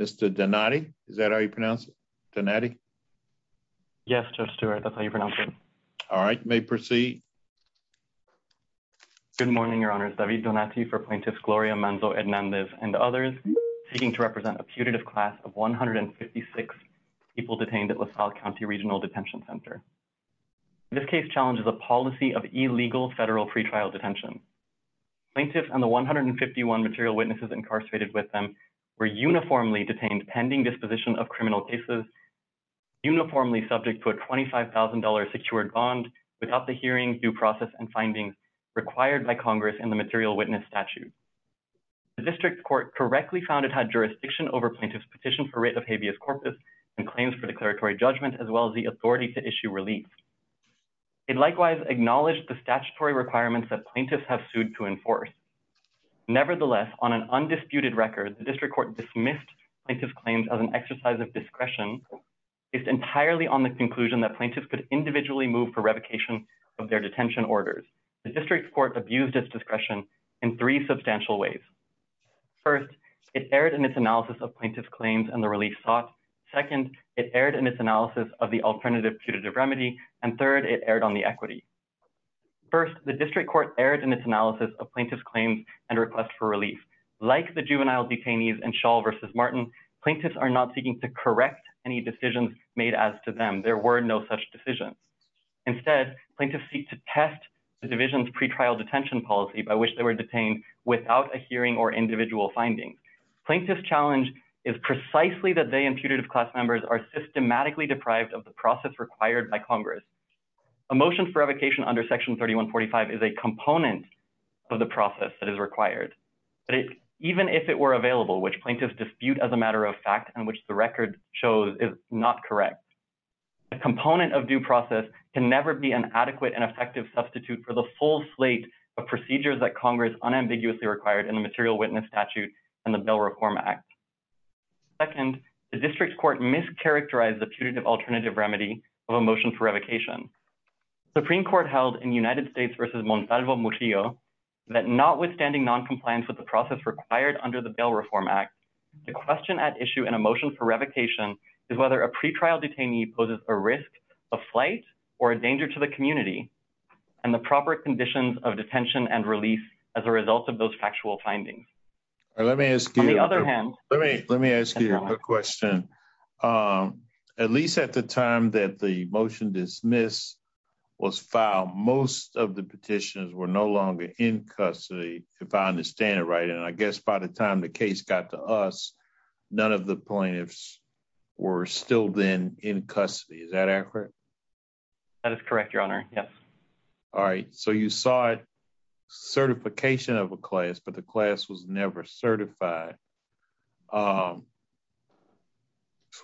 Mr Donati, is that how you pronounce it? Donati? Yes, Judge Stewart, that's how you pronounce it. All right, you may proceed. Good morning, Your Honor. David Donati for Plaintiff's Gloria Manzo-Hernandez and others. Plaintiff seeking to represent a putative class of 156 people detained at LaSalle County Regional Detention Center. This case challenges a policy of illegal federal pretrial detention. Plaintiffs and the 151 material witnesses incarcerated with them were uniformly detained pending disposition of criminal cases, uniformly subject to a $25,000 secured bond without the hearing, due process, and findings required by Congress in the material witness statute. The district court correctly found it had jurisdiction over plaintiff's petition for writ of habeas corpus and claims for declaratory judgment, as well as the authority to issue relief. It likewise acknowledged the statutory requirements that plaintiffs have sued to enforce. Nevertheless, on an undisputed record, the district court dismissed plaintiff's claims as an exercise of discretion. It's entirely on the conclusion that plaintiffs could individually move for revocation of their detention orders. The district court abused its discretion in three substantial ways. First, it erred in its analysis of plaintiff's claims and the relief sought. Second, it erred in its analysis of the alternative putative remedy. And third, it erred on the equity. First, the district court erred in its analysis of plaintiff's claims and request for relief. Like the juvenile detainees in Schall v. Martin, plaintiffs are not seeking to correct any decisions made as to them. There were no such decisions. Instead, plaintiffs seek to test the division's pretrial detention policy by which they were detained without a hearing or individual finding. Plaintiff's challenge is precisely that they and putative class members are systematically deprived of the process required by Congress. A motion for revocation under Section 3145 is a component of the process that is required. But even if it were available, which plaintiffs dispute as a matter of fact and which the record shows is not correct. A component of due process can never be an adequate and effective substitute for the full slate of procedures that Congress unambiguously required in the Material Witness Statute and the Bail Reform Act. Second, the district court mischaracterized the putative alternative remedy of a motion for revocation. Supreme Court held in United States v. Montalvo-Murillo that notwithstanding noncompliance with the process required under the Bail Reform Act, the question at issue in a motion for revocation is whether a pretrial detainee poses a risk of flight or a danger to the community, and the proper conditions of detention and release as a result of those factual findings. Let me ask you a question. At least at the time that the motion dismiss was filed, most of the petitions were no longer in custody, if I understand it right. And I guess by the time the case got to us, none of the plaintiffs were still then in custody. Is that accurate? That is correct, Your Honor. Yes. All right. So you saw certification of a class, but the class was never certified. So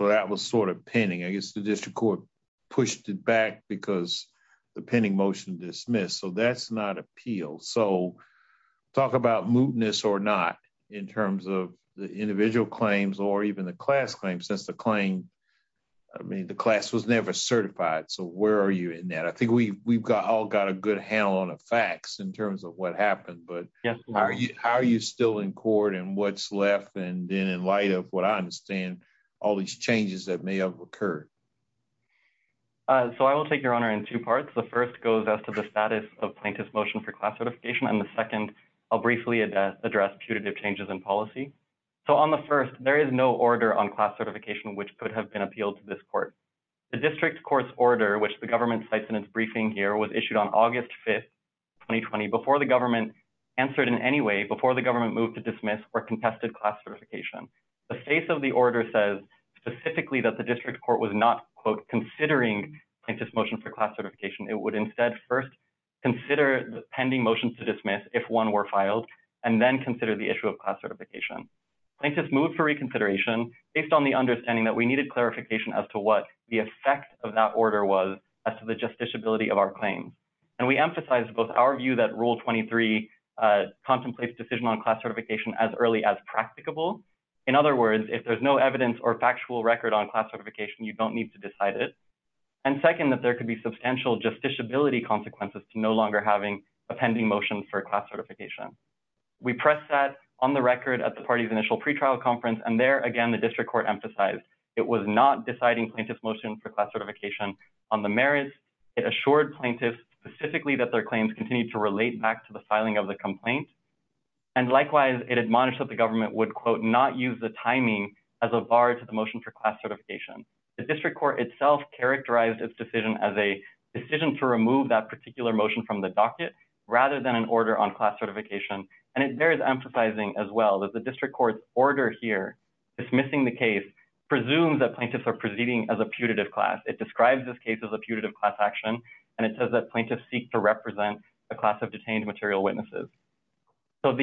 that was sort of pinning. I guess the district court pushed it back because the pending motion dismissed. So that's not appealed. So talk about mootness or not in terms of the individual claims or even the class claims. That's the claim. I mean, the class was never certified. So where are you in that? I think we've got all got a good handle on the facts in terms of what happened. But how are you still in court and what's left? And then in light of what I understand, all these changes that may have occurred. So I will take your honor in two parts. The first goes as to the status of plaintiff's motion for class certification. And the second, I'll briefly address putative changes in policy. So on the first, there is no order on class certification, which could have been appealed to this court. The district court's order, which the government cites in its briefing here, was issued on August 5th, 2020, before the government answered in any way, before the government moved to dismiss or contested class certification. The face of the order says specifically that the district court was not considering plaintiff's motion for class certification. It would instead first consider the pending motion to dismiss if one were filed and then consider the issue of class certification. Plaintiff's moved for reconsideration based on the understanding that we needed clarification as to what the effect of that order was as to the justiciability of our claims. And we emphasize both our view that Rule 23 contemplates decision on class certification as early as practicable. In other words, if there's no evidence or factual record on class certification, you don't need to decide it. And second, that there could be substantial justiciability consequences to no longer having a pending motion for class certification. We pressed that on the record at the party's initial pretrial conference. And there again, the district court emphasized it was not deciding plaintiff's motion for class certification on the merits. It assured plaintiffs specifically that their claims continue to relate back to the filing of the complaint. And likewise, it admonished that the government would, quote, not use the timing as a bar to the motion for class certification. The district court itself characterized its decision as a decision to remove that particular motion from the docket rather than an order on class certification. And it bears emphasizing as well that the district court's order here, dismissing the case, presumes that plaintiffs are proceeding as a putative class. It describes this case as a putative class action, and it says that plaintiffs seek to represent a class of detained material witnesses. So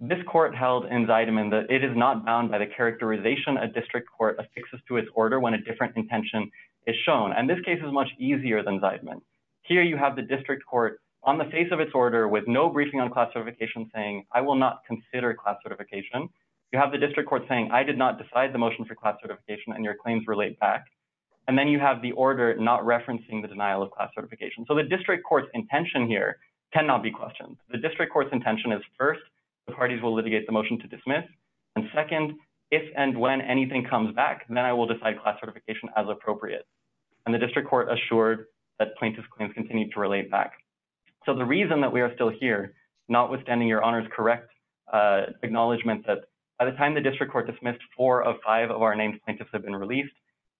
this court held in Zideman that it is not bound by the characterization a district court affixes to its order when a different intention is shown. And this case is much easier than Zideman. Here you have the district court on the face of its order with no briefing on class certification saying, I will not consider class certification. You have the district court saying, I did not decide the motion for class certification, and your claims relate back. And then you have the order not referencing the denial of class certification. So the district court's intention here cannot be questioned. The district court's intention is, first, the parties will litigate the motion to dismiss, and second, if and when anything comes back, then I will decide class certification as appropriate. And the district court assured that plaintiffs' claims continue to relate back. So the reason that we are still here, notwithstanding your Honor's correct acknowledgement that by the time the district court dismissed, four of five of our named plaintiffs have been released,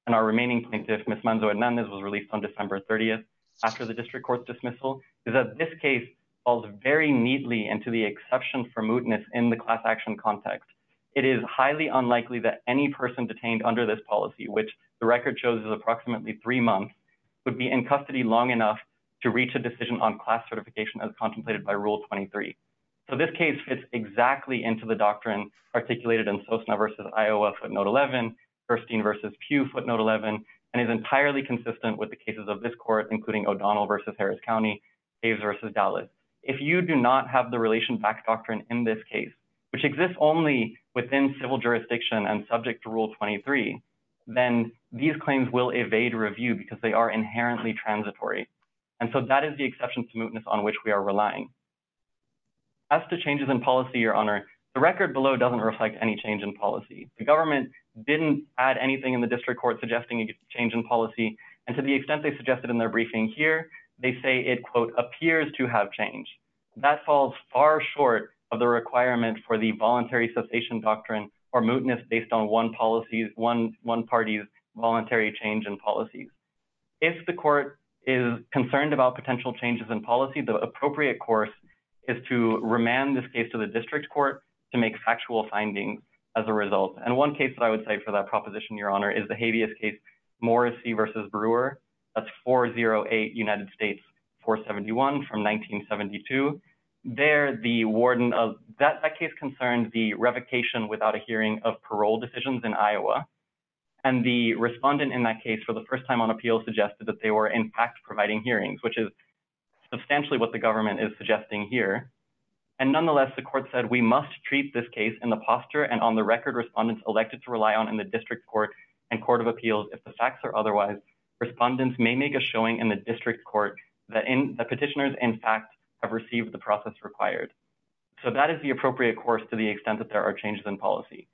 and our remaining plaintiff, Ms. Manzo Hernandez, was released on December 30th, after the district court's dismissal, is that this case falls very neatly into the exception for mootness in the class action context. It is highly unlikely that any person detained under this policy, which the record shows is approximately three months, would be in custody long enough to reach a decision on class certification as contemplated by Rule 23. So this case fits exactly into the doctrine articulated in Sosna v. Iowa footnote 11, Thurstein v. Pew footnote 11, and is entirely consistent with the cases of this court, including O'Donnell v. Harris County, Hays v. Dallas. However, if you do not have the relation back doctrine in this case, which exists only within civil jurisdiction and subject to Rule 23, then these claims will evade review because they are inherently transitory. And so that is the exception to mootness on which we are relying. As to changes in policy, your Honor, the record below doesn't reflect any change in policy. The government didn't add anything in the district court suggesting a change in policy, and to the extent they suggested in their briefing here, they say it, quote, appears to have changed. That falls far short of the requirement for the voluntary cessation doctrine or mootness based on one party's voluntary change in policies. If the court is concerned about potential changes in policy, the appropriate course is to remand this case to the district court to make factual findings as a result. And one case that I would cite for that proposition, your Honor, is the habeas case Morrissey v. Brewer. That's 408 United States 471 from 1972. There, the warden of that case concerned the revocation without a hearing of parole decisions in Iowa. And the respondent in that case for the first time on appeal suggested that they were in fact providing hearings, which is substantially what the government is suggesting here. And nonetheless, the court said we must treat this case in the posture and on the record respondents elected to rely on in the district court and court of appeals. If the facts are otherwise, respondents may make a showing in the district court that petitioners in fact have received the process required. So that is the appropriate course to the extent that there are changes in policy.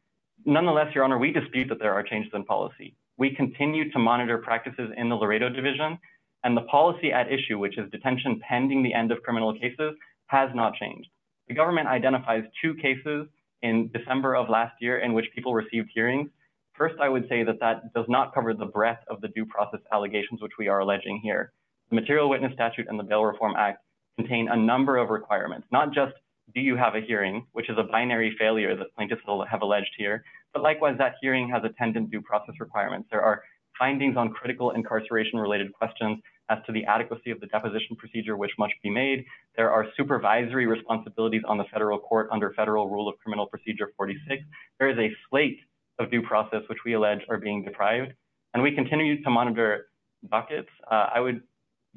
Nonetheless, your Honor, we dispute that there are changes in policy. We continue to monitor practices in the Laredo Division, and the policy at issue, which is detention pending the end of criminal cases, has not changed. The government identifies two cases in December of last year in which people received hearings. First, I would say that that does not cover the breadth of the due process allegations which we are alleging here. The material witness statute and the Bail Reform Act contain a number of requirements, not just do you have a hearing, which is a binary failure that plaintiffs will have alleged here, but likewise that hearing has attended due process requirements. There are findings on critical incarceration related questions as to the adequacy of the deposition procedure, which must be made. There are supervisory responsibilities on the federal court under federal rule of criminal procedure 46. There is a slate of due process, which we allege are being deprived. And we continue to monitor buckets.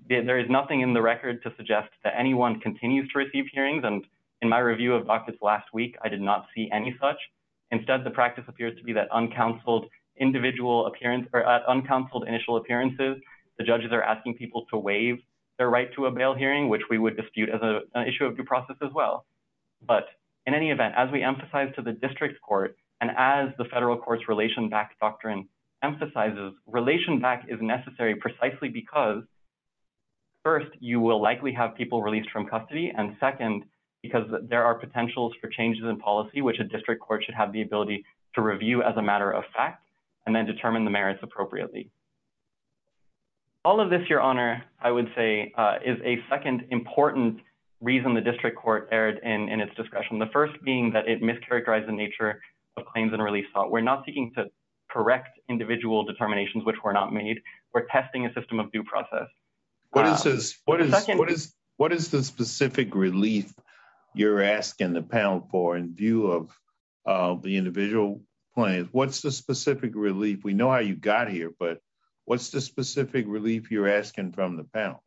There is nothing in the record to suggest that anyone continues to receive hearings, and in my review of buckets last week, I did not see any such. Instead, the practice appears to be that at uncounseled initial appearances, the judges are asking people to waive their right to a bail hearing, which we would dispute as an issue of due process as well. But in any event, as we emphasize to the district court, and as the federal courts relation back doctrine emphasizes, relation back is necessary precisely because, first, you will likely have people released from custody, and second, because there are potentials for changes in policy, which a district court should have the ability to review as a matter of fact, and then determine the merits appropriately. All of this, Your Honor, I would say, is a second important reason the district court erred in its discretion. The first being that it mischaracterized the nature of claims and relief sought. We're not seeking to correct individual determinations which were not made. We're testing a system of due process. What is the specific relief you're asking the panel for in view of the individual claims? What's the specific relief? We know how you got here, but what's the specific relief you're asking from the panel?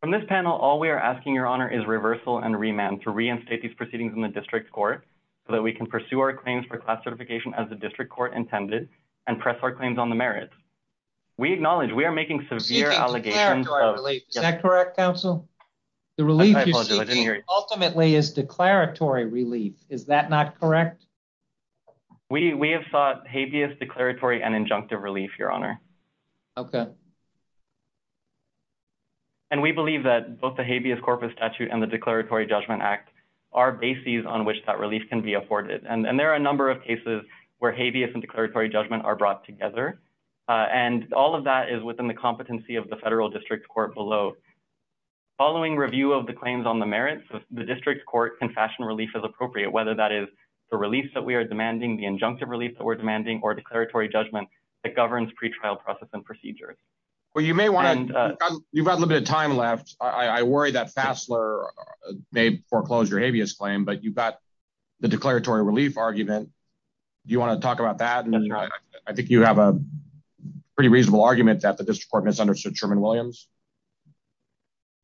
From this panel, all we are asking, Your Honor, is reversal and remand to reinstate these proceedings in the district court so that we can pursue our claims for class certification as the district court intended and press our claims on the merits. We acknowledge we are making severe allegations. Is that correct, counsel? The relief you're seeking ultimately is declaratory relief. Is that not correct? We have sought habeas declaratory and injunctive relief, Your Honor. Okay. And we believe that both the habeas corpus statute and the Declaratory Judgment Act are bases on which that relief can be afforded. And there are a number of cases where habeas and declaratory judgment are brought together, and all of that is within the competency of the federal district court below. Following review of the claims on the merits, the district court can fashion relief as appropriate, whether that is the relief that we are demanding, the injunctive relief that we're demanding, or declaratory judgment that governs pretrial process and procedures. Well, you may want to – you've got a little bit of time left. I worry that Fassler may foreclose your habeas claim, but you've got the declaratory relief argument. Do you want to talk about that? I think you have a pretty reasonable argument that the district court misunderstood Sherman Williams.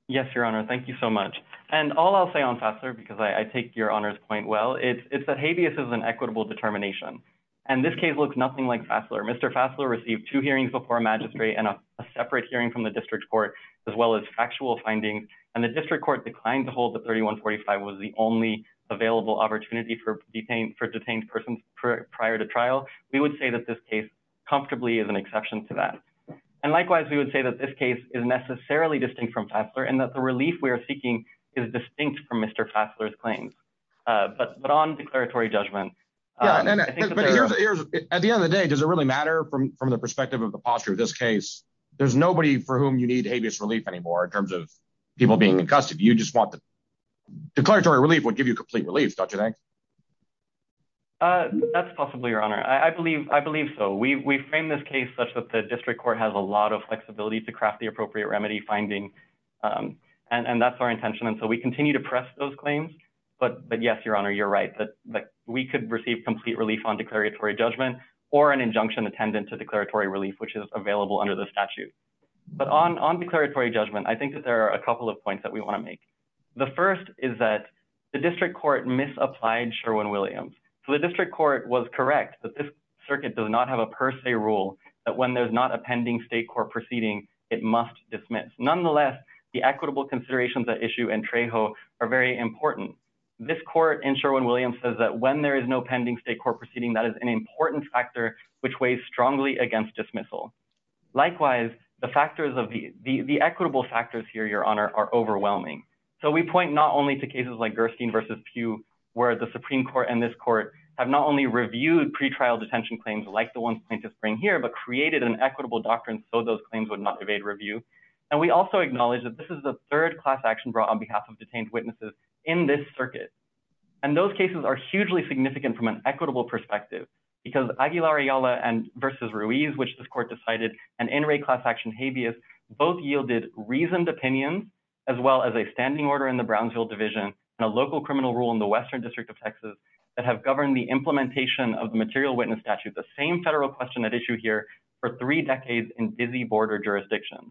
Yes, Your Honor. Thank you so much. And all I'll say on Fassler, because I take Your Honor's point well, is that habeas is an equitable determination. And this case looks nothing like Fassler. Mr. Fassler received two hearings before a magistrate and a separate hearing from the district court as well as factual findings. And the district court declined to hold that 3145 was the only available opportunity for detained persons prior to trial. We would say that this case comfortably is an exception to that. And likewise, we would say that this case is necessarily distinct from Fassler and that the relief we are seeking is distinct from Mr. Fassler's claims. But on declaratory judgment – Does it matter from the perspective of the posture of this case? There's nobody for whom you need habeas relief anymore in terms of people being in custody. You just want the declaratory relief would give you complete relief, don't you think? That's possible, Your Honor. I believe so. We frame this case such that the district court has a lot of flexibility to craft the appropriate remedy finding, and that's our intention. And so we continue to press those claims. But yes, Your Honor, you're right. We could receive complete relief on declaratory judgment or an injunction attendant to declaratory relief, which is available under the statute. But on declaratory judgment, I think that there are a couple of points that we want to make. The first is that the district court misapplied Sherwin-Williams. So the district court was correct that this circuit does not have a per se rule that when there's not a pending state court proceeding, it must dismiss. Nonetheless, the equitable considerations at issue in Trejo are very important. This court in Sherwin-Williams says that when there is no pending state court proceeding, that is an important factor which weighs strongly against dismissal. Likewise, the equitable factors here, Your Honor, are overwhelming. So we point not only to cases like Gerstein v. Pew, where the Supreme Court and this court have not only reviewed pretrial detention claims like the ones plaintiffs bring here, but created an equitable doctrine so those claims would not evade review. And we also acknowledge that this is the third class action brought on behalf of detained witnesses in this circuit. And those cases are hugely significant from an equitable perspective, because Aguilar-Ayala v. Ruiz, which this court decided, and In Re class action, Habeas, both yielded reasoned opinions, as well as a standing order in the Brownsville division, and a local criminal rule in the Western District of Texas that have governed the implementation of the material witness statute, the same federal question at issue here, for three decades in busy border jurisdictions.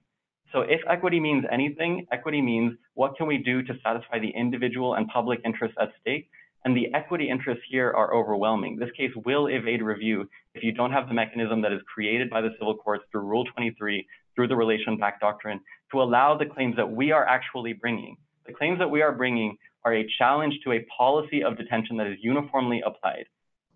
So if equity means anything, equity means what can we do to satisfy the individual and public interests at stake, and the equity interests here are overwhelming. This case will evade review if you don't have the mechanism that is created by the civil courts through Rule 23, through the relation-backed doctrine, to allow the claims that we are actually bringing. The claims that we are bringing are a challenge to a policy of detention that is uniformly applied.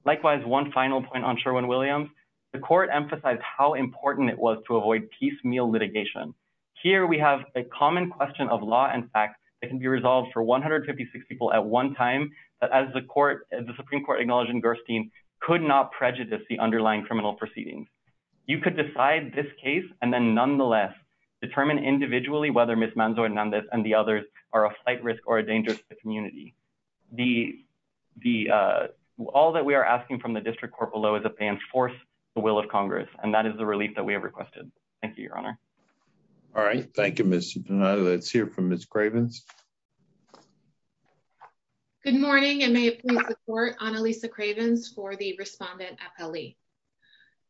Likewise, one final point on Sherwin-Williams, the court emphasized how important it was to avoid piecemeal litigation. Here we have a common question of law and fact that can be resolved for 156 people at one time, that as the Supreme Court acknowledged in Gerstein, could not prejudice the underlying criminal proceedings. You could decide this case, and then nonetheless, determine individually whether Ms. Manzo-Hernandez and the others are a flight risk or a danger to the community. All that we are asking from the District Court below is that they enforce the will of Congress, and that is the relief that we have requested. Thank you, Your Honor. All right, thank you, Mr. Donato. Let's hear from Ms. Cravens. Good morning, and may it please the Court, Annalisa Cravens for the respondent appellee.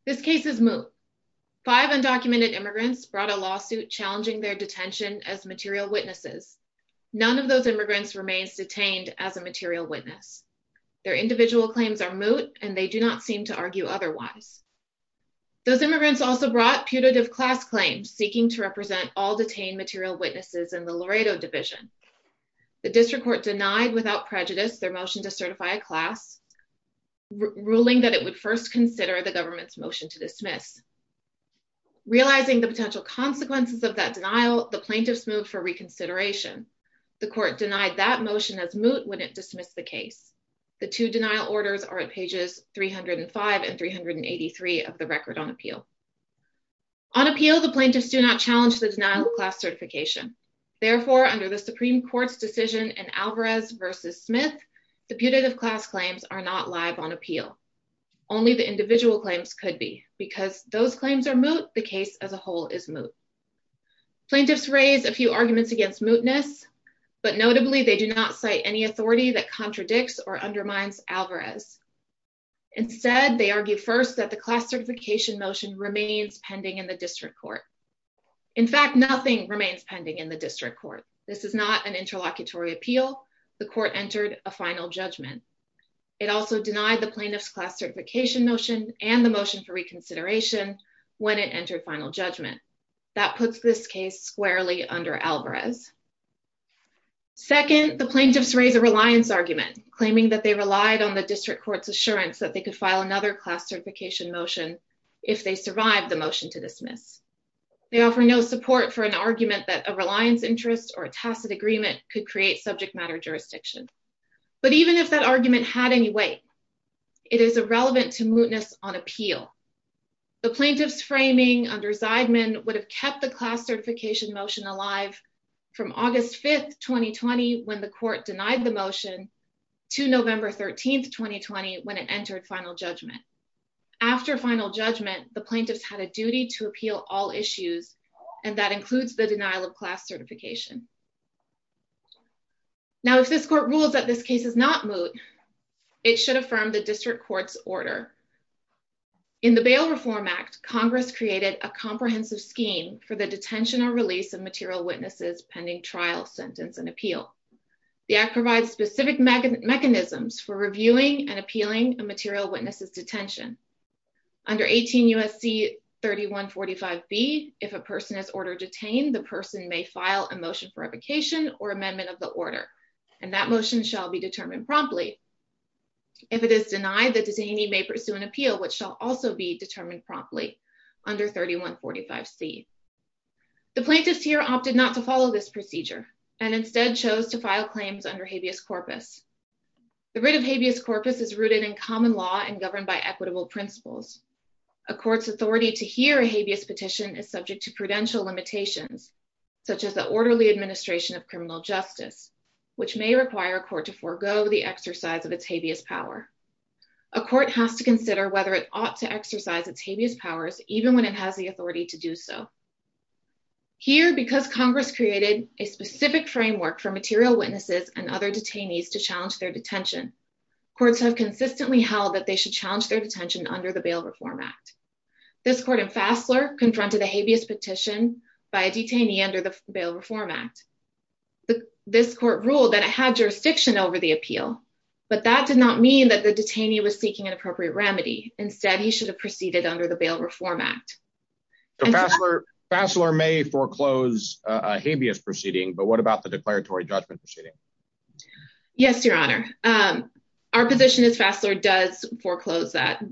This case is moot. Five undocumented immigrants brought a lawsuit challenging their detention as material witnesses. None of those immigrants remains detained as a material witness. Their individual claims are moot, and they do not seem to argue otherwise. Those immigrants also brought putative class claims seeking to represent all detained material witnesses in the Laredo Division. The District Court denied without prejudice their motion to certify a class, ruling that it would first consider the government's motion to dismiss. Realizing the potential consequences of that denial, the plaintiffs moved for reconsideration. The Court denied that motion as moot when it dismissed the case. The two denial orders are at pages 305 and 383 of the record on appeal. On appeal, the plaintiffs do not challenge the denial of class certification. Therefore, under the Supreme Court's decision in Alvarez v. Smith, the putative class claims are not live on appeal. Only the individual claims could be. Because those claims are moot, the case as a whole is moot. Plaintiffs raise a few arguments against mootness, but notably they do not cite any authority that contradicts or undermines Alvarez. Instead, they argue first that the class certification motion remains pending in the District Court. In fact, nothing remains pending in the District Court. This is not an interlocutory appeal. The Court entered a final judgment. It also denied the plaintiff's class certification motion and the motion for reconsideration when it entered final judgment. That puts this case squarely under Alvarez. Second, the plaintiffs raise a reliance argument, claiming that they relied on the District Court's assurance that they could file another class certification motion if they survived the motion to dismiss. They offer no support for an argument that a reliance interest or a tacit agreement could create subject matter jurisdiction. But even if that argument had any weight, it is irrelevant to mootness on appeal. The plaintiffs' framing under Zeidman would have kept the class certification motion alive from August 5, 2020, when the Court denied the motion, to November 13, 2020, when it entered final judgment. After final judgment, the plaintiffs had a duty to appeal all issues, and that includes the denial of class certification. Now, if this Court rules that this case is not moot, it should affirm the District Court's order. In the Bail Reform Act, Congress created a comprehensive scheme for the detention or release of material witnesses pending trial, sentence, and appeal. The Act provides specific mechanisms for reviewing and appealing a material witness's detention. Under 18 U.S.C. 3145B, if a person is ordered detained, the person may file a motion for revocation or amendment of the order, and that motion shall be determined promptly. If it is denied, the detainee may pursue an appeal, which shall also be determined promptly under 3145C. The plaintiffs here opted not to follow this procedure, and instead chose to file claims under habeas corpus. The writ of habeas corpus is rooted in common law and governed by equitable principles. A court's authority to hear a habeas petition is subject to prudential limitations, such as the orderly administration of criminal justice, which may require a court to forego the exercise of its habeas power. A court has to consider whether it ought to exercise its habeas powers, even when it has the authority to do so. Here, because Congress created a specific framework for material witnesses and other detainees to challenge their detention, courts have consistently held that they should challenge their detention under the Bail Reform Act. This court in Fassler confronted a habeas petition by a detainee under the Bail Reform Act. This court ruled that it had jurisdiction over the appeal, but that did not mean that the detainee was seeking an appropriate remedy. Instead, he should have proceeded under the Bail Reform Act. Fassler may foreclose a habeas proceeding, but what about the declaratory judgment proceeding? Yes, Your Honor. Our position is Fassler does foreclose that.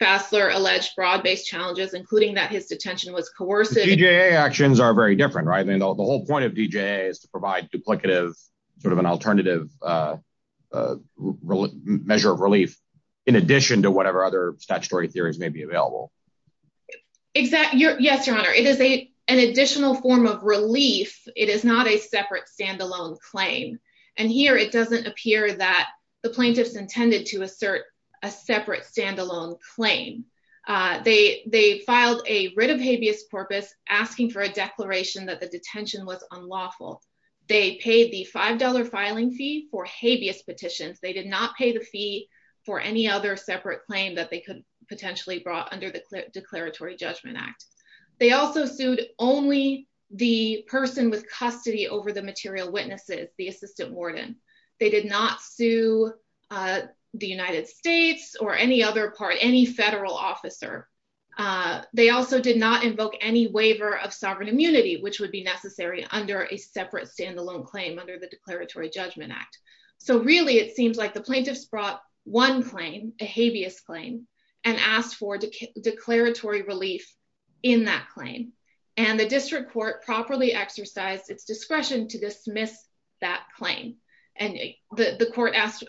Fassler alleged broad-based challenges, including that his detention was coercive. DJA actions are very different, right? The whole point of DJA is to provide duplicative, sort of an alternative measure of relief, in addition to whatever other statutory theories may be available. Yes, Your Honor. It is an additional form of relief. It is not a separate, stand-alone claim. And here, it doesn't appear that the plaintiffs intended to assert a separate, stand-alone claim. They filed a writ of habeas corpus asking for a declaration that the detention was unlawful. They paid the $5 filing fee for habeas petitions. They did not pay the fee for any other separate claim that they could potentially brought under the Declaratory Judgment Act. They also sued only the person with custody over the material witnesses, the assistant warden. They did not sue the United States or any other part, any federal officer. They also did not invoke any waiver of sovereign immunity, which would be necessary under a separate, stand-alone claim under the Declaratory Judgment Act. So really, it seems like the plaintiffs brought one claim, a habeas claim, and asked for declaratory relief in that claim. And the district court properly exercised its discretion to dismiss that claim. And the court asked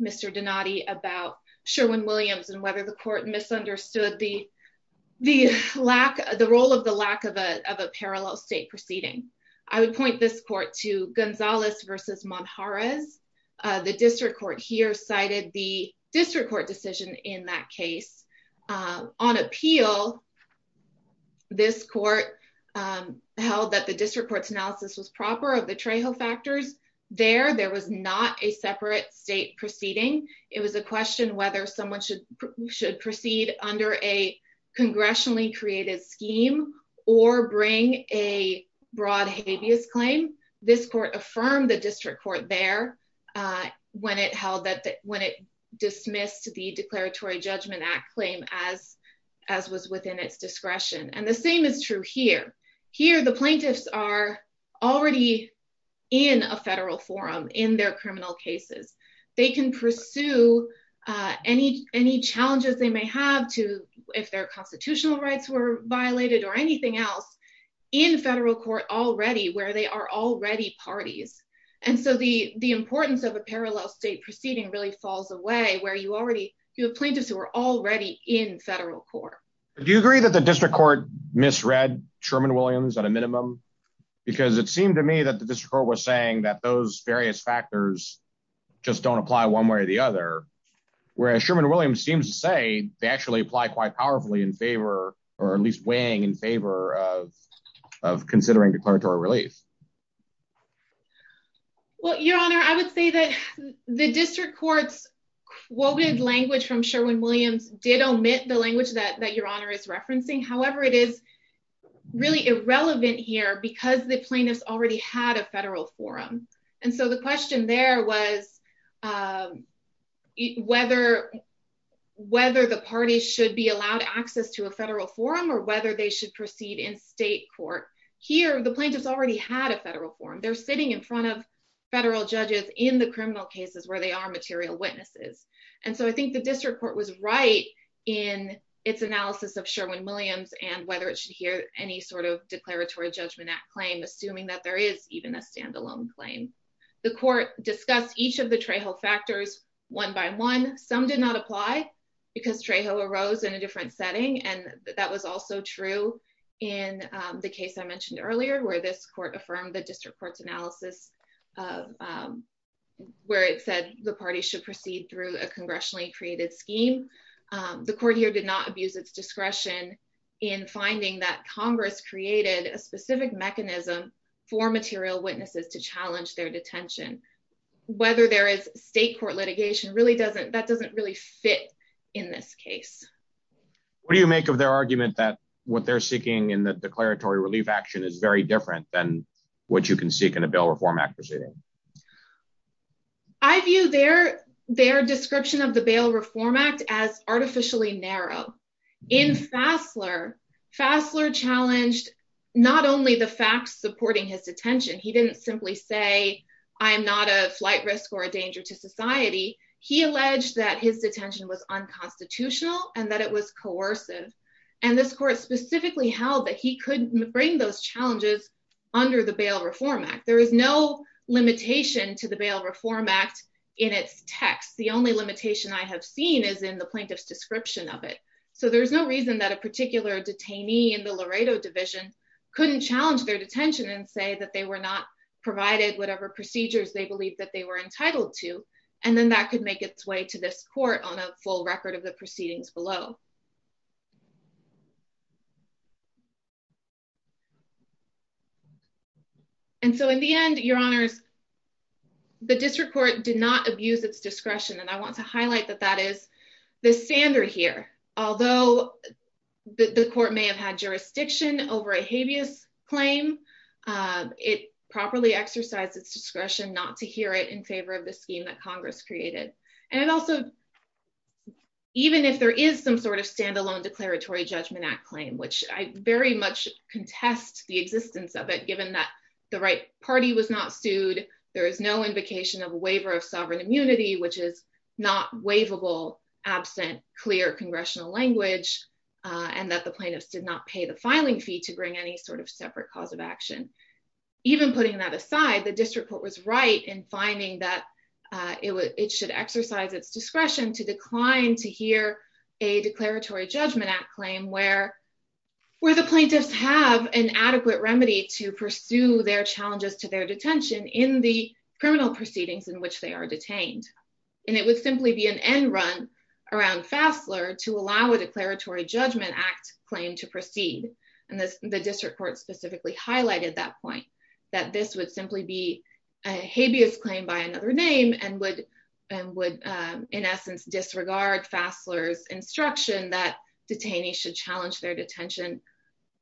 Mr. Donati about Sherwin-Williams and whether the court misunderstood the role of the lack of a parallel state proceeding. I would point this court to Gonzalez v. Monjarez. The district court here cited the district court decision in that case. On appeal, this court held that the district court's analysis was proper of the Trejo factors. There, there was not a separate state proceeding. It was a question whether someone should proceed under a congressionally-created scheme or bring a broad habeas claim. This court affirmed the district court there when it dismissed the Declaratory Judgment Act claim as was within its discretion. And the same is true here. Here, the plaintiffs are already in a federal forum in their criminal cases. They can pursue any challenges they may have if their constitutional rights were violated or anything else in federal court already where they are already parties. And so the importance of a parallel state proceeding really falls away where you have plaintiffs who are already in federal court. Do you agree that the district court misread Sherman-Williams at a minimum? Because it seemed to me that the district court was saying that those various factors just don't apply one way or the other. Whereas Sherman-Williams seems to say they actually apply quite powerfully in favor or at least weighing in favor of considering declaratory relief. Well, Your Honor, I would say that the district court's quoted language from Sherman-Williams did omit the language that Your Honor is referencing. However, it is really irrelevant here because the plaintiffs already had a federal forum. And so the question there was whether the parties should be allowed access to a federal forum or whether they should proceed in state court. Here, the plaintiffs already had a federal forum. They're sitting in front of federal judges in the criminal cases where they are material witnesses. And so I think the district court was right in its analysis of Sherman-Williams and whether it should hear any sort of Declaratory Judgment Act claim, assuming that there is even a standalone claim. The court discussed each of the Trejo factors one by one. Some did not apply because Trejo arose in a different setting. And that was also true in the case I mentioned earlier, where this court affirmed the district court's analysis of where it said the party should proceed through a congressionally created scheme. The court here did not abuse its discretion in finding that Congress created a specific mechanism for material witnesses to challenge their detention. Whether there is state court litigation, that doesn't really fit in this case. What do you make of their argument that what they're seeking in the declaratory relief action is very different than what you can seek in a bail reform act proceeding? I view their description of the bail reform act as artificially narrow. In Fassler, Fassler challenged not only the facts supporting his detention. He didn't simply say, I'm not a flight risk or a danger to society. He alleged that his detention was unconstitutional and that it was coercive. And this court specifically held that he couldn't bring those challenges under the bail reform act. There is no limitation to the bail reform act in its text. The only limitation I have seen is in the plaintiff's description of it. So there's no reason that a particular detainee in the Laredo division couldn't challenge their detention and say that they were not provided whatever procedures they believed that they were entitled to. And then that could make its way to this court on a full record of the proceedings below. And so in the end, your honors, the district court did not abuse its discretion. And I want to highlight that that is the standard here. Although the court may have had jurisdiction over a habeas claim, it properly exercised its discretion not to hear it in favor of the scheme that Congress created. And it also, even if there is some sort of standalone declaratory judgment act claim, which I very much contest the existence of it, given that the right party was not sued. There is no invocation of a waiver of sovereign immunity, which is not waivable, absent clear congressional language, and that the plaintiffs did not pay the filing fee to bring any sort of separate cause of action. Even putting that aside, the district court was right in finding that it should exercise its discretion to decline to hear a declaratory judgment act claim where the plaintiffs have an adequate remedy to pursue their challenges to their detention in the criminal proceedings in which they are detained. And it would simply be an end run around Fassler to allow a declaratory judgment act claim to proceed. And the district court specifically highlighted that point, that this would simply be a habeas claim by another name and would, in essence, disregard Fassler's instruction that detainees should challenge their detention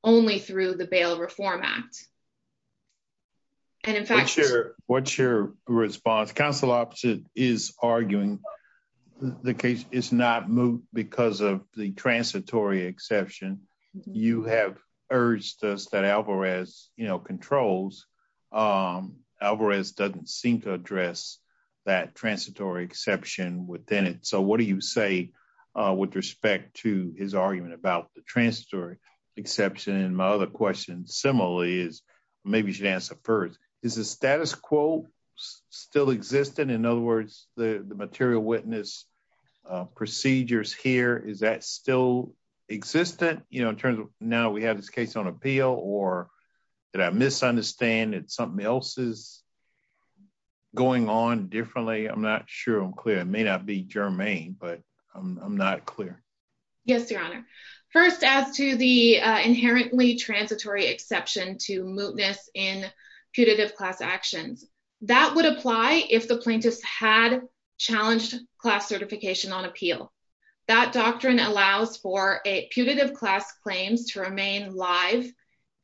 only through the bail reform act. And in fact, what's your, what's your response council option is arguing the case is not moved because of the transitory exception, you have urged us that Alvarez, you know controls. Alvarez doesn't seem to address that transitory exception within it. So what do you say, with respect to his argument about the transitory exception and my other question similarly is, maybe you should answer first, is the status quo, still existent in other words, the material witness procedures here is that still existent, you know, in terms of now we have this case on appeal or Did I misunderstand that something else is Going on differently. I'm not sure I'm clear. It may not be germane, but I'm not clear. Yes, Your Honor. First, as to the inherently transitory exception to mootness in putative class actions that would apply if the plaintiffs had challenged class certification on appeal. That doctrine allows for a putative class claims to remain live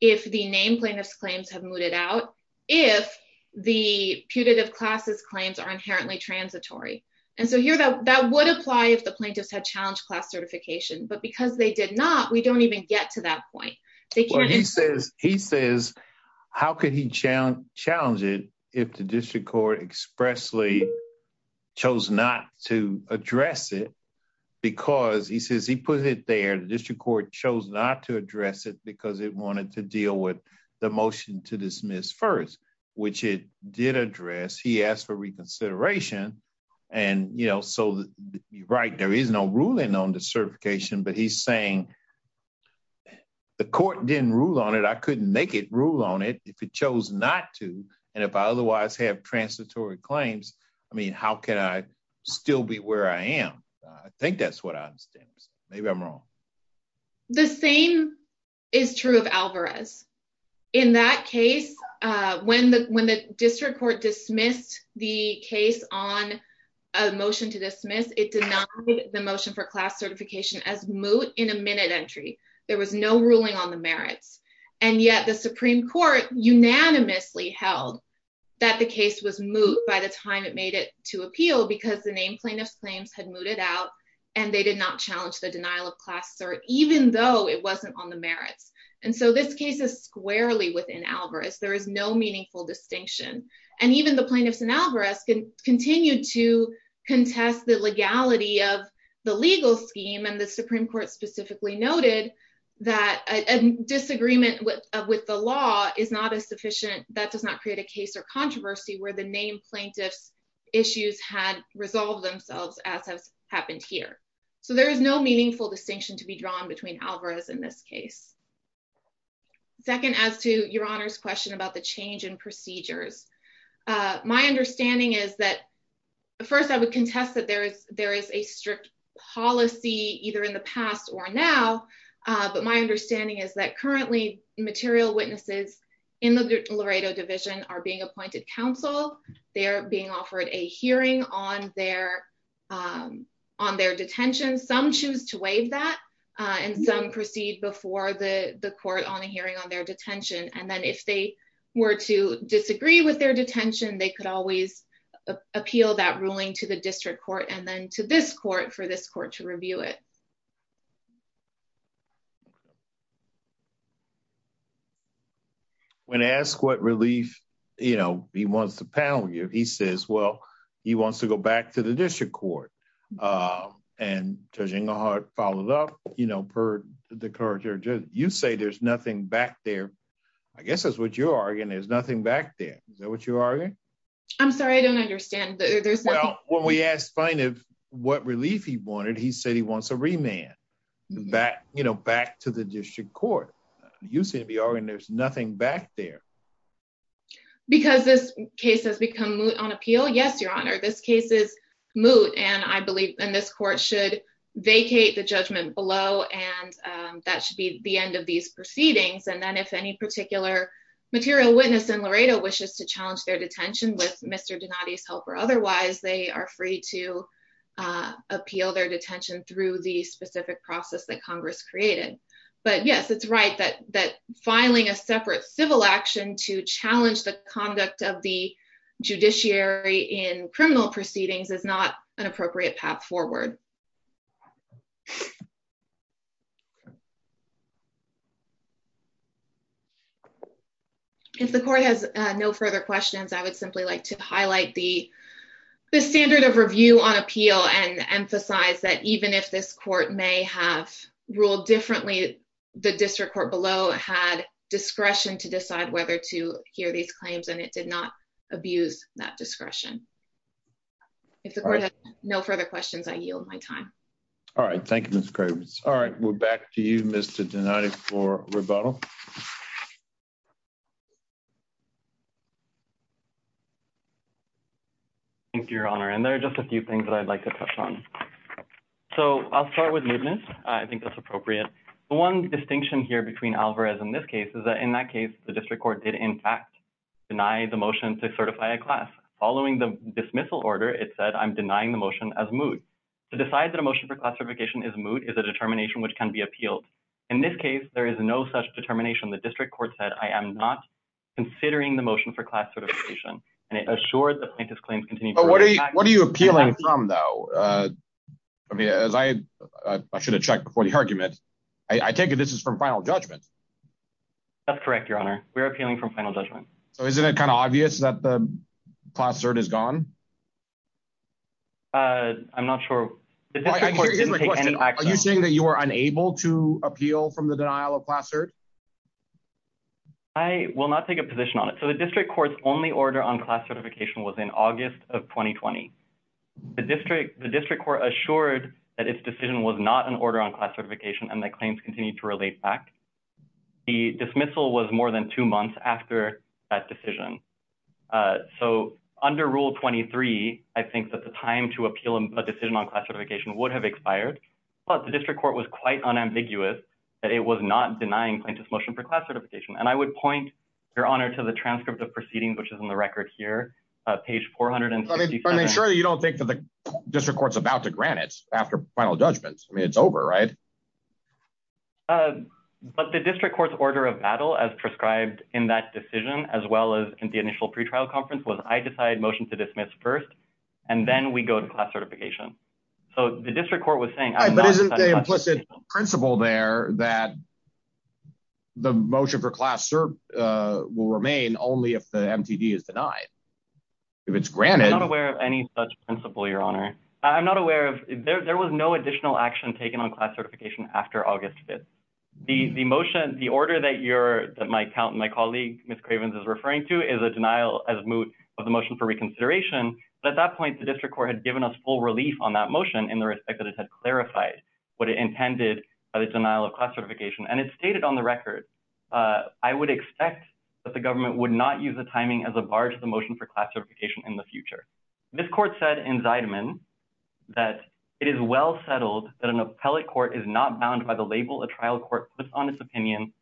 if the name plaintiffs claims have mooted out if the putative classes claims are inherently transitory. And so here that that would apply if the plaintiffs had challenged class certification, but because they did not. We don't even get to that point. He says, he says, how could he challenge challenge it if the district court expressly chose not to address it. Because he says he put it there. The district court chose not to address it because it wanted to deal with the motion to dismiss first, which it did address he asked for reconsideration and you know so right there is no ruling on the certification, but he's saying The court didn't rule on it. I couldn't make it rule on it if it chose not to. And if I otherwise have transitory claims. I mean, how can I still be where I am. I think that's what I understand. Maybe I'm wrong. The same is true of Alvarez. In that case, when the when the district court dismissed the case on a motion to dismiss it did not The motion for class certification as moot in a minute entry. There was no ruling on the merits and yet the Supreme Court unanimously held That the case was moot by the time it made it to appeal because the name plaintiffs claims had mooted out And they did not challenge the denial of class or even though it wasn't on the merits. And so this case is squarely within Alvarez, there is no meaningful distinction. And even the plaintiffs and Alvarez can continue to contest the legality of the legal scheme and the Supreme Court specifically noted That a disagreement with with the law is not a sufficient that does not create a case or controversy where the name plaintiffs issues had resolved themselves as has happened here. So there is no meaningful distinction to be drawn between Alvarez in this case. Second, as to your honors question about the change in procedures. My understanding is that first I would contest that there is there is a strict policy, either in the past or now. But my understanding is that currently material witnesses in the Laredo division are being appointed counsel, they're being offered a hearing on their On their detention. Some choose to waive that and some proceed before the court on a hearing on their detention and then if they were to disagree with their detention, they could always appeal that ruling to the district court and then to this court for this court to review it. When asked what relief, you know, he wants to panel you. He says, well, he wants to go back to the district court. And judging the heart followed up, you know, per the courage or just you say there's nothing back there. I guess that's what you're arguing is nothing back there. Is that what you are. I'm sorry, I don't understand. Well, when we asked find it what relief. He wanted. He said he wants a remand back, you know, back to the district court. You seem to be arguing, there's nothing back there. Because this case has become on appeal. Yes, Your Honor. This case is moot and I believe in this court should vacate the judgment below and That should be the end of these proceedings and then if any particular material witness in Laredo wishes to challenge their detention with Mr. Donati's help or otherwise they are free to Appeal their detention through the specific process that Congress created. But yes, it's right that that filing a separate civil action to challenge the conduct of the judiciary in criminal proceedings is not an appropriate path forward. If the court has no further questions, I would simply like to highlight the The standard of review on appeal and emphasize that even if this court may have ruled differently. The district court below had discretion to decide whether to hear these claims and it did not abuse that discretion. If the court has no further questions, I yield my time. All right. Thank you, Mr. Cravens. All right. We're back to you, Mr. Donati for rebuttal. Thank you, Your Honor. And there are just a few things that I'd like to touch on. So I'll start with mootness. I think that's appropriate. One distinction here between Alvarez in this case is that in that case, the district court did in fact Deny the motion to certify a class following the dismissal order. It said I'm denying the motion as moot to decide that emotion for classification is moot is a determination which can be appealed. In this case, there is no such determination. The district court said, I am not considering the motion for class certification and it assured the plaintiff's claims continue. What are you appealing from, though? I mean, as I should have checked before the argument. I take it. This is from final judgment. That's correct, Your Honor. We're appealing from final judgment. So isn't it kind of obvious that the class cert is gone? I'm not sure. Are you saying that you are unable to appeal from the denial of class cert? I will not take a position on it. So the district court's only order on classification was in August of 2020. The district court assured that its decision was not an order on class certification and that claims continue to relate back. The dismissal was more than two months after that decision. So under Rule 23, I think that the time to appeal a decision on class certification would have expired. But the district court was quite unambiguous that it was not denying plaintiff's motion for class certification. And I would point, Your Honor, to the transcript of proceedings, which is in the record here, page 467. So you don't think that the district court's about to grant it after final judgment? I mean, it's over, right? But the district court's order of battle, as prescribed in that decision, as well as in the initial pretrial conference, was I decide motion to dismiss first, and then we go to class certification. So the district court was saying I'm not going to... But isn't the implicit principle there that the motion for class cert will remain only if the MTD is denied? If it's granted... That's the implicit principle, Your Honor. I'm not aware of... There was no additional action taken on class certification after August 5th. The motion, the order that you're, that my colleague, Ms. Cravens, is referring to is a denial as moot of the motion for reconsideration. But at that point, the district court had given us full relief on that motion in the respect that it had clarified what it intended by the denial of class certification. And it's stated on the record, I would expect that the government would not use the timing as a bar to the motion for class certification in the future. It also said in Zideman that it is well settled that an appellate court is not bound by the label a trial court puts on its opinion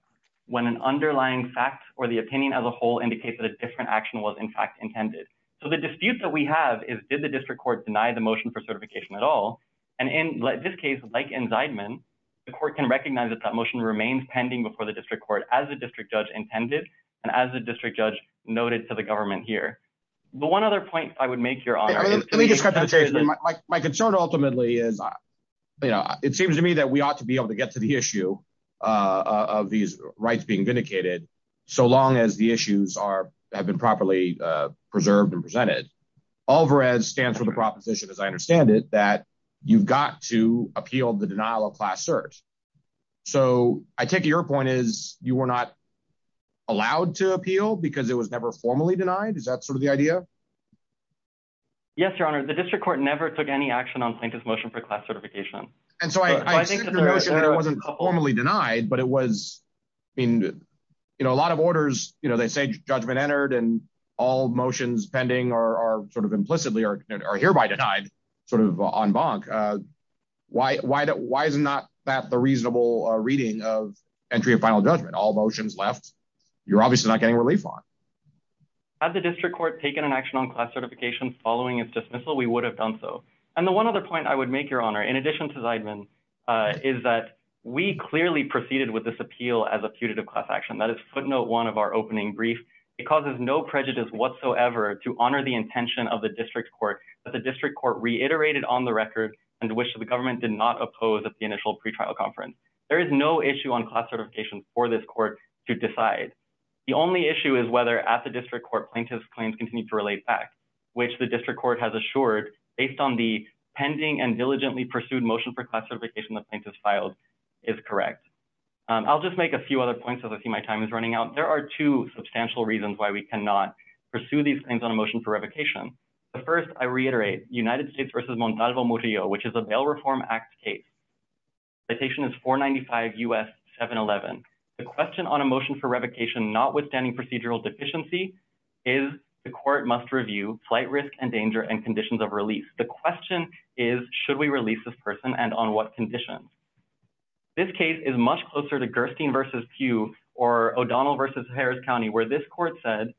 when an underlying fact or the opinion as a whole indicates that a different action was in fact intended. So the dispute that we have is did the district court deny the motion for certification at all? And in this case, like in Zideman, the court can recognize that that motion remains pending before the district court as the district judge intended and as the district judge noted to the government here. But one other point I would make, Your Honor. Let me just cut to the chase. My concern ultimately is, you know, it seems to me that we ought to be able to get to the issue of these rights being vindicated so long as the issues are, have been properly preserved and presented. Alvarez stands for the proposition, as I understand it, that you've got to appeal the denial of class cert. So I take your point is you were not allowed to appeal because it was never formally denied. Is that sort of the idea? Yes, Your Honor. The district court never took any action on Sankith's motion for class certification. And so I wasn't formally denied, but it was in, you know, a lot of orders, you know, they say judgment entered and all motions pending or sort of implicitly or hereby denied sort of en banc. Why, why, why is it not that the reasonable reading of entry of final judgment, all motions left, you're obviously not getting relief on. Had the district court taken an action on class certification following its dismissal, we would have done so. And the one other point I would make, Your Honor, in addition to Zeidman, is that we clearly proceeded with this appeal as a putative class action. That is footnote one of our opening brief. It causes no prejudice whatsoever to honor the intention of the district court that the district court reiterated on the record and which the government did not oppose at the initial pretrial conference. There is no issue on class certification for this court to decide. The only issue is whether at the district court plaintiff's claims continue to relate back, which the district court has assured based on the pending and diligently pursued motion for class certification the plaintiff's filed is correct. I'll just make a few other points as I see my time is running out. There are two substantial reasons why we cannot pursue these things on a motion for revocation. The first, I reiterate, United States v. Montalvo Murillo, which is a Bail Reform Act case. Citation is 495 U.S. 711. The question on a motion for revocation notwithstanding procedural deficiency is the court must review flight risk and danger and conditions of release. The question is, should we release this person and on what conditions? This case is much closer to Gerstein v. Pugh or O'Donnell v. Harris County, where this court said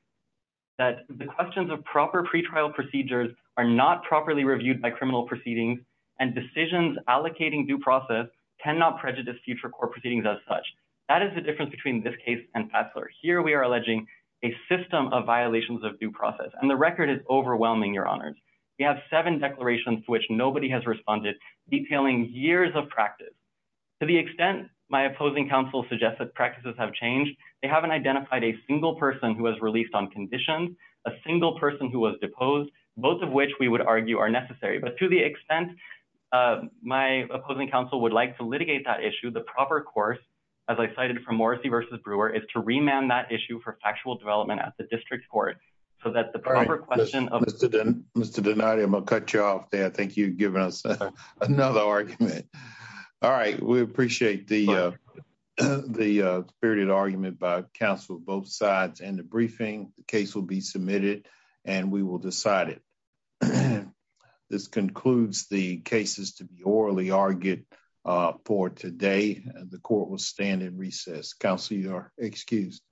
that the questions of proper pretrial procedures are not properly reviewed by criminal proceedings and decisions allocating due process cannot prejudice future court proceedings as such. That is the difference between this case and Patzler. Here we are alleging a system of violations of due process, and the record is overwhelming, Your Honors. We have seven declarations to which nobody has responded, detailing years of practice. To the extent my opposing counsel suggests that practices have changed, they haven't identified a single person who was released on conditions, a single person who was deposed, both of which we would argue are necessary. But to the extent my opposing counsel would like to litigate that issue, the proper course, as I cited from Morrissey v. Brewer, is to remand that issue for factual development at the district court so that the proper question of... Mr. Donati, I'm going to cut you off there. I think you've given us another argument. All right. We appreciate the spirited argument by counsel on both sides and the briefing. The case will be submitted, and we will decide it. This concludes the cases to be orally argued for today. The court will stand in recess. Counsel, you are excused.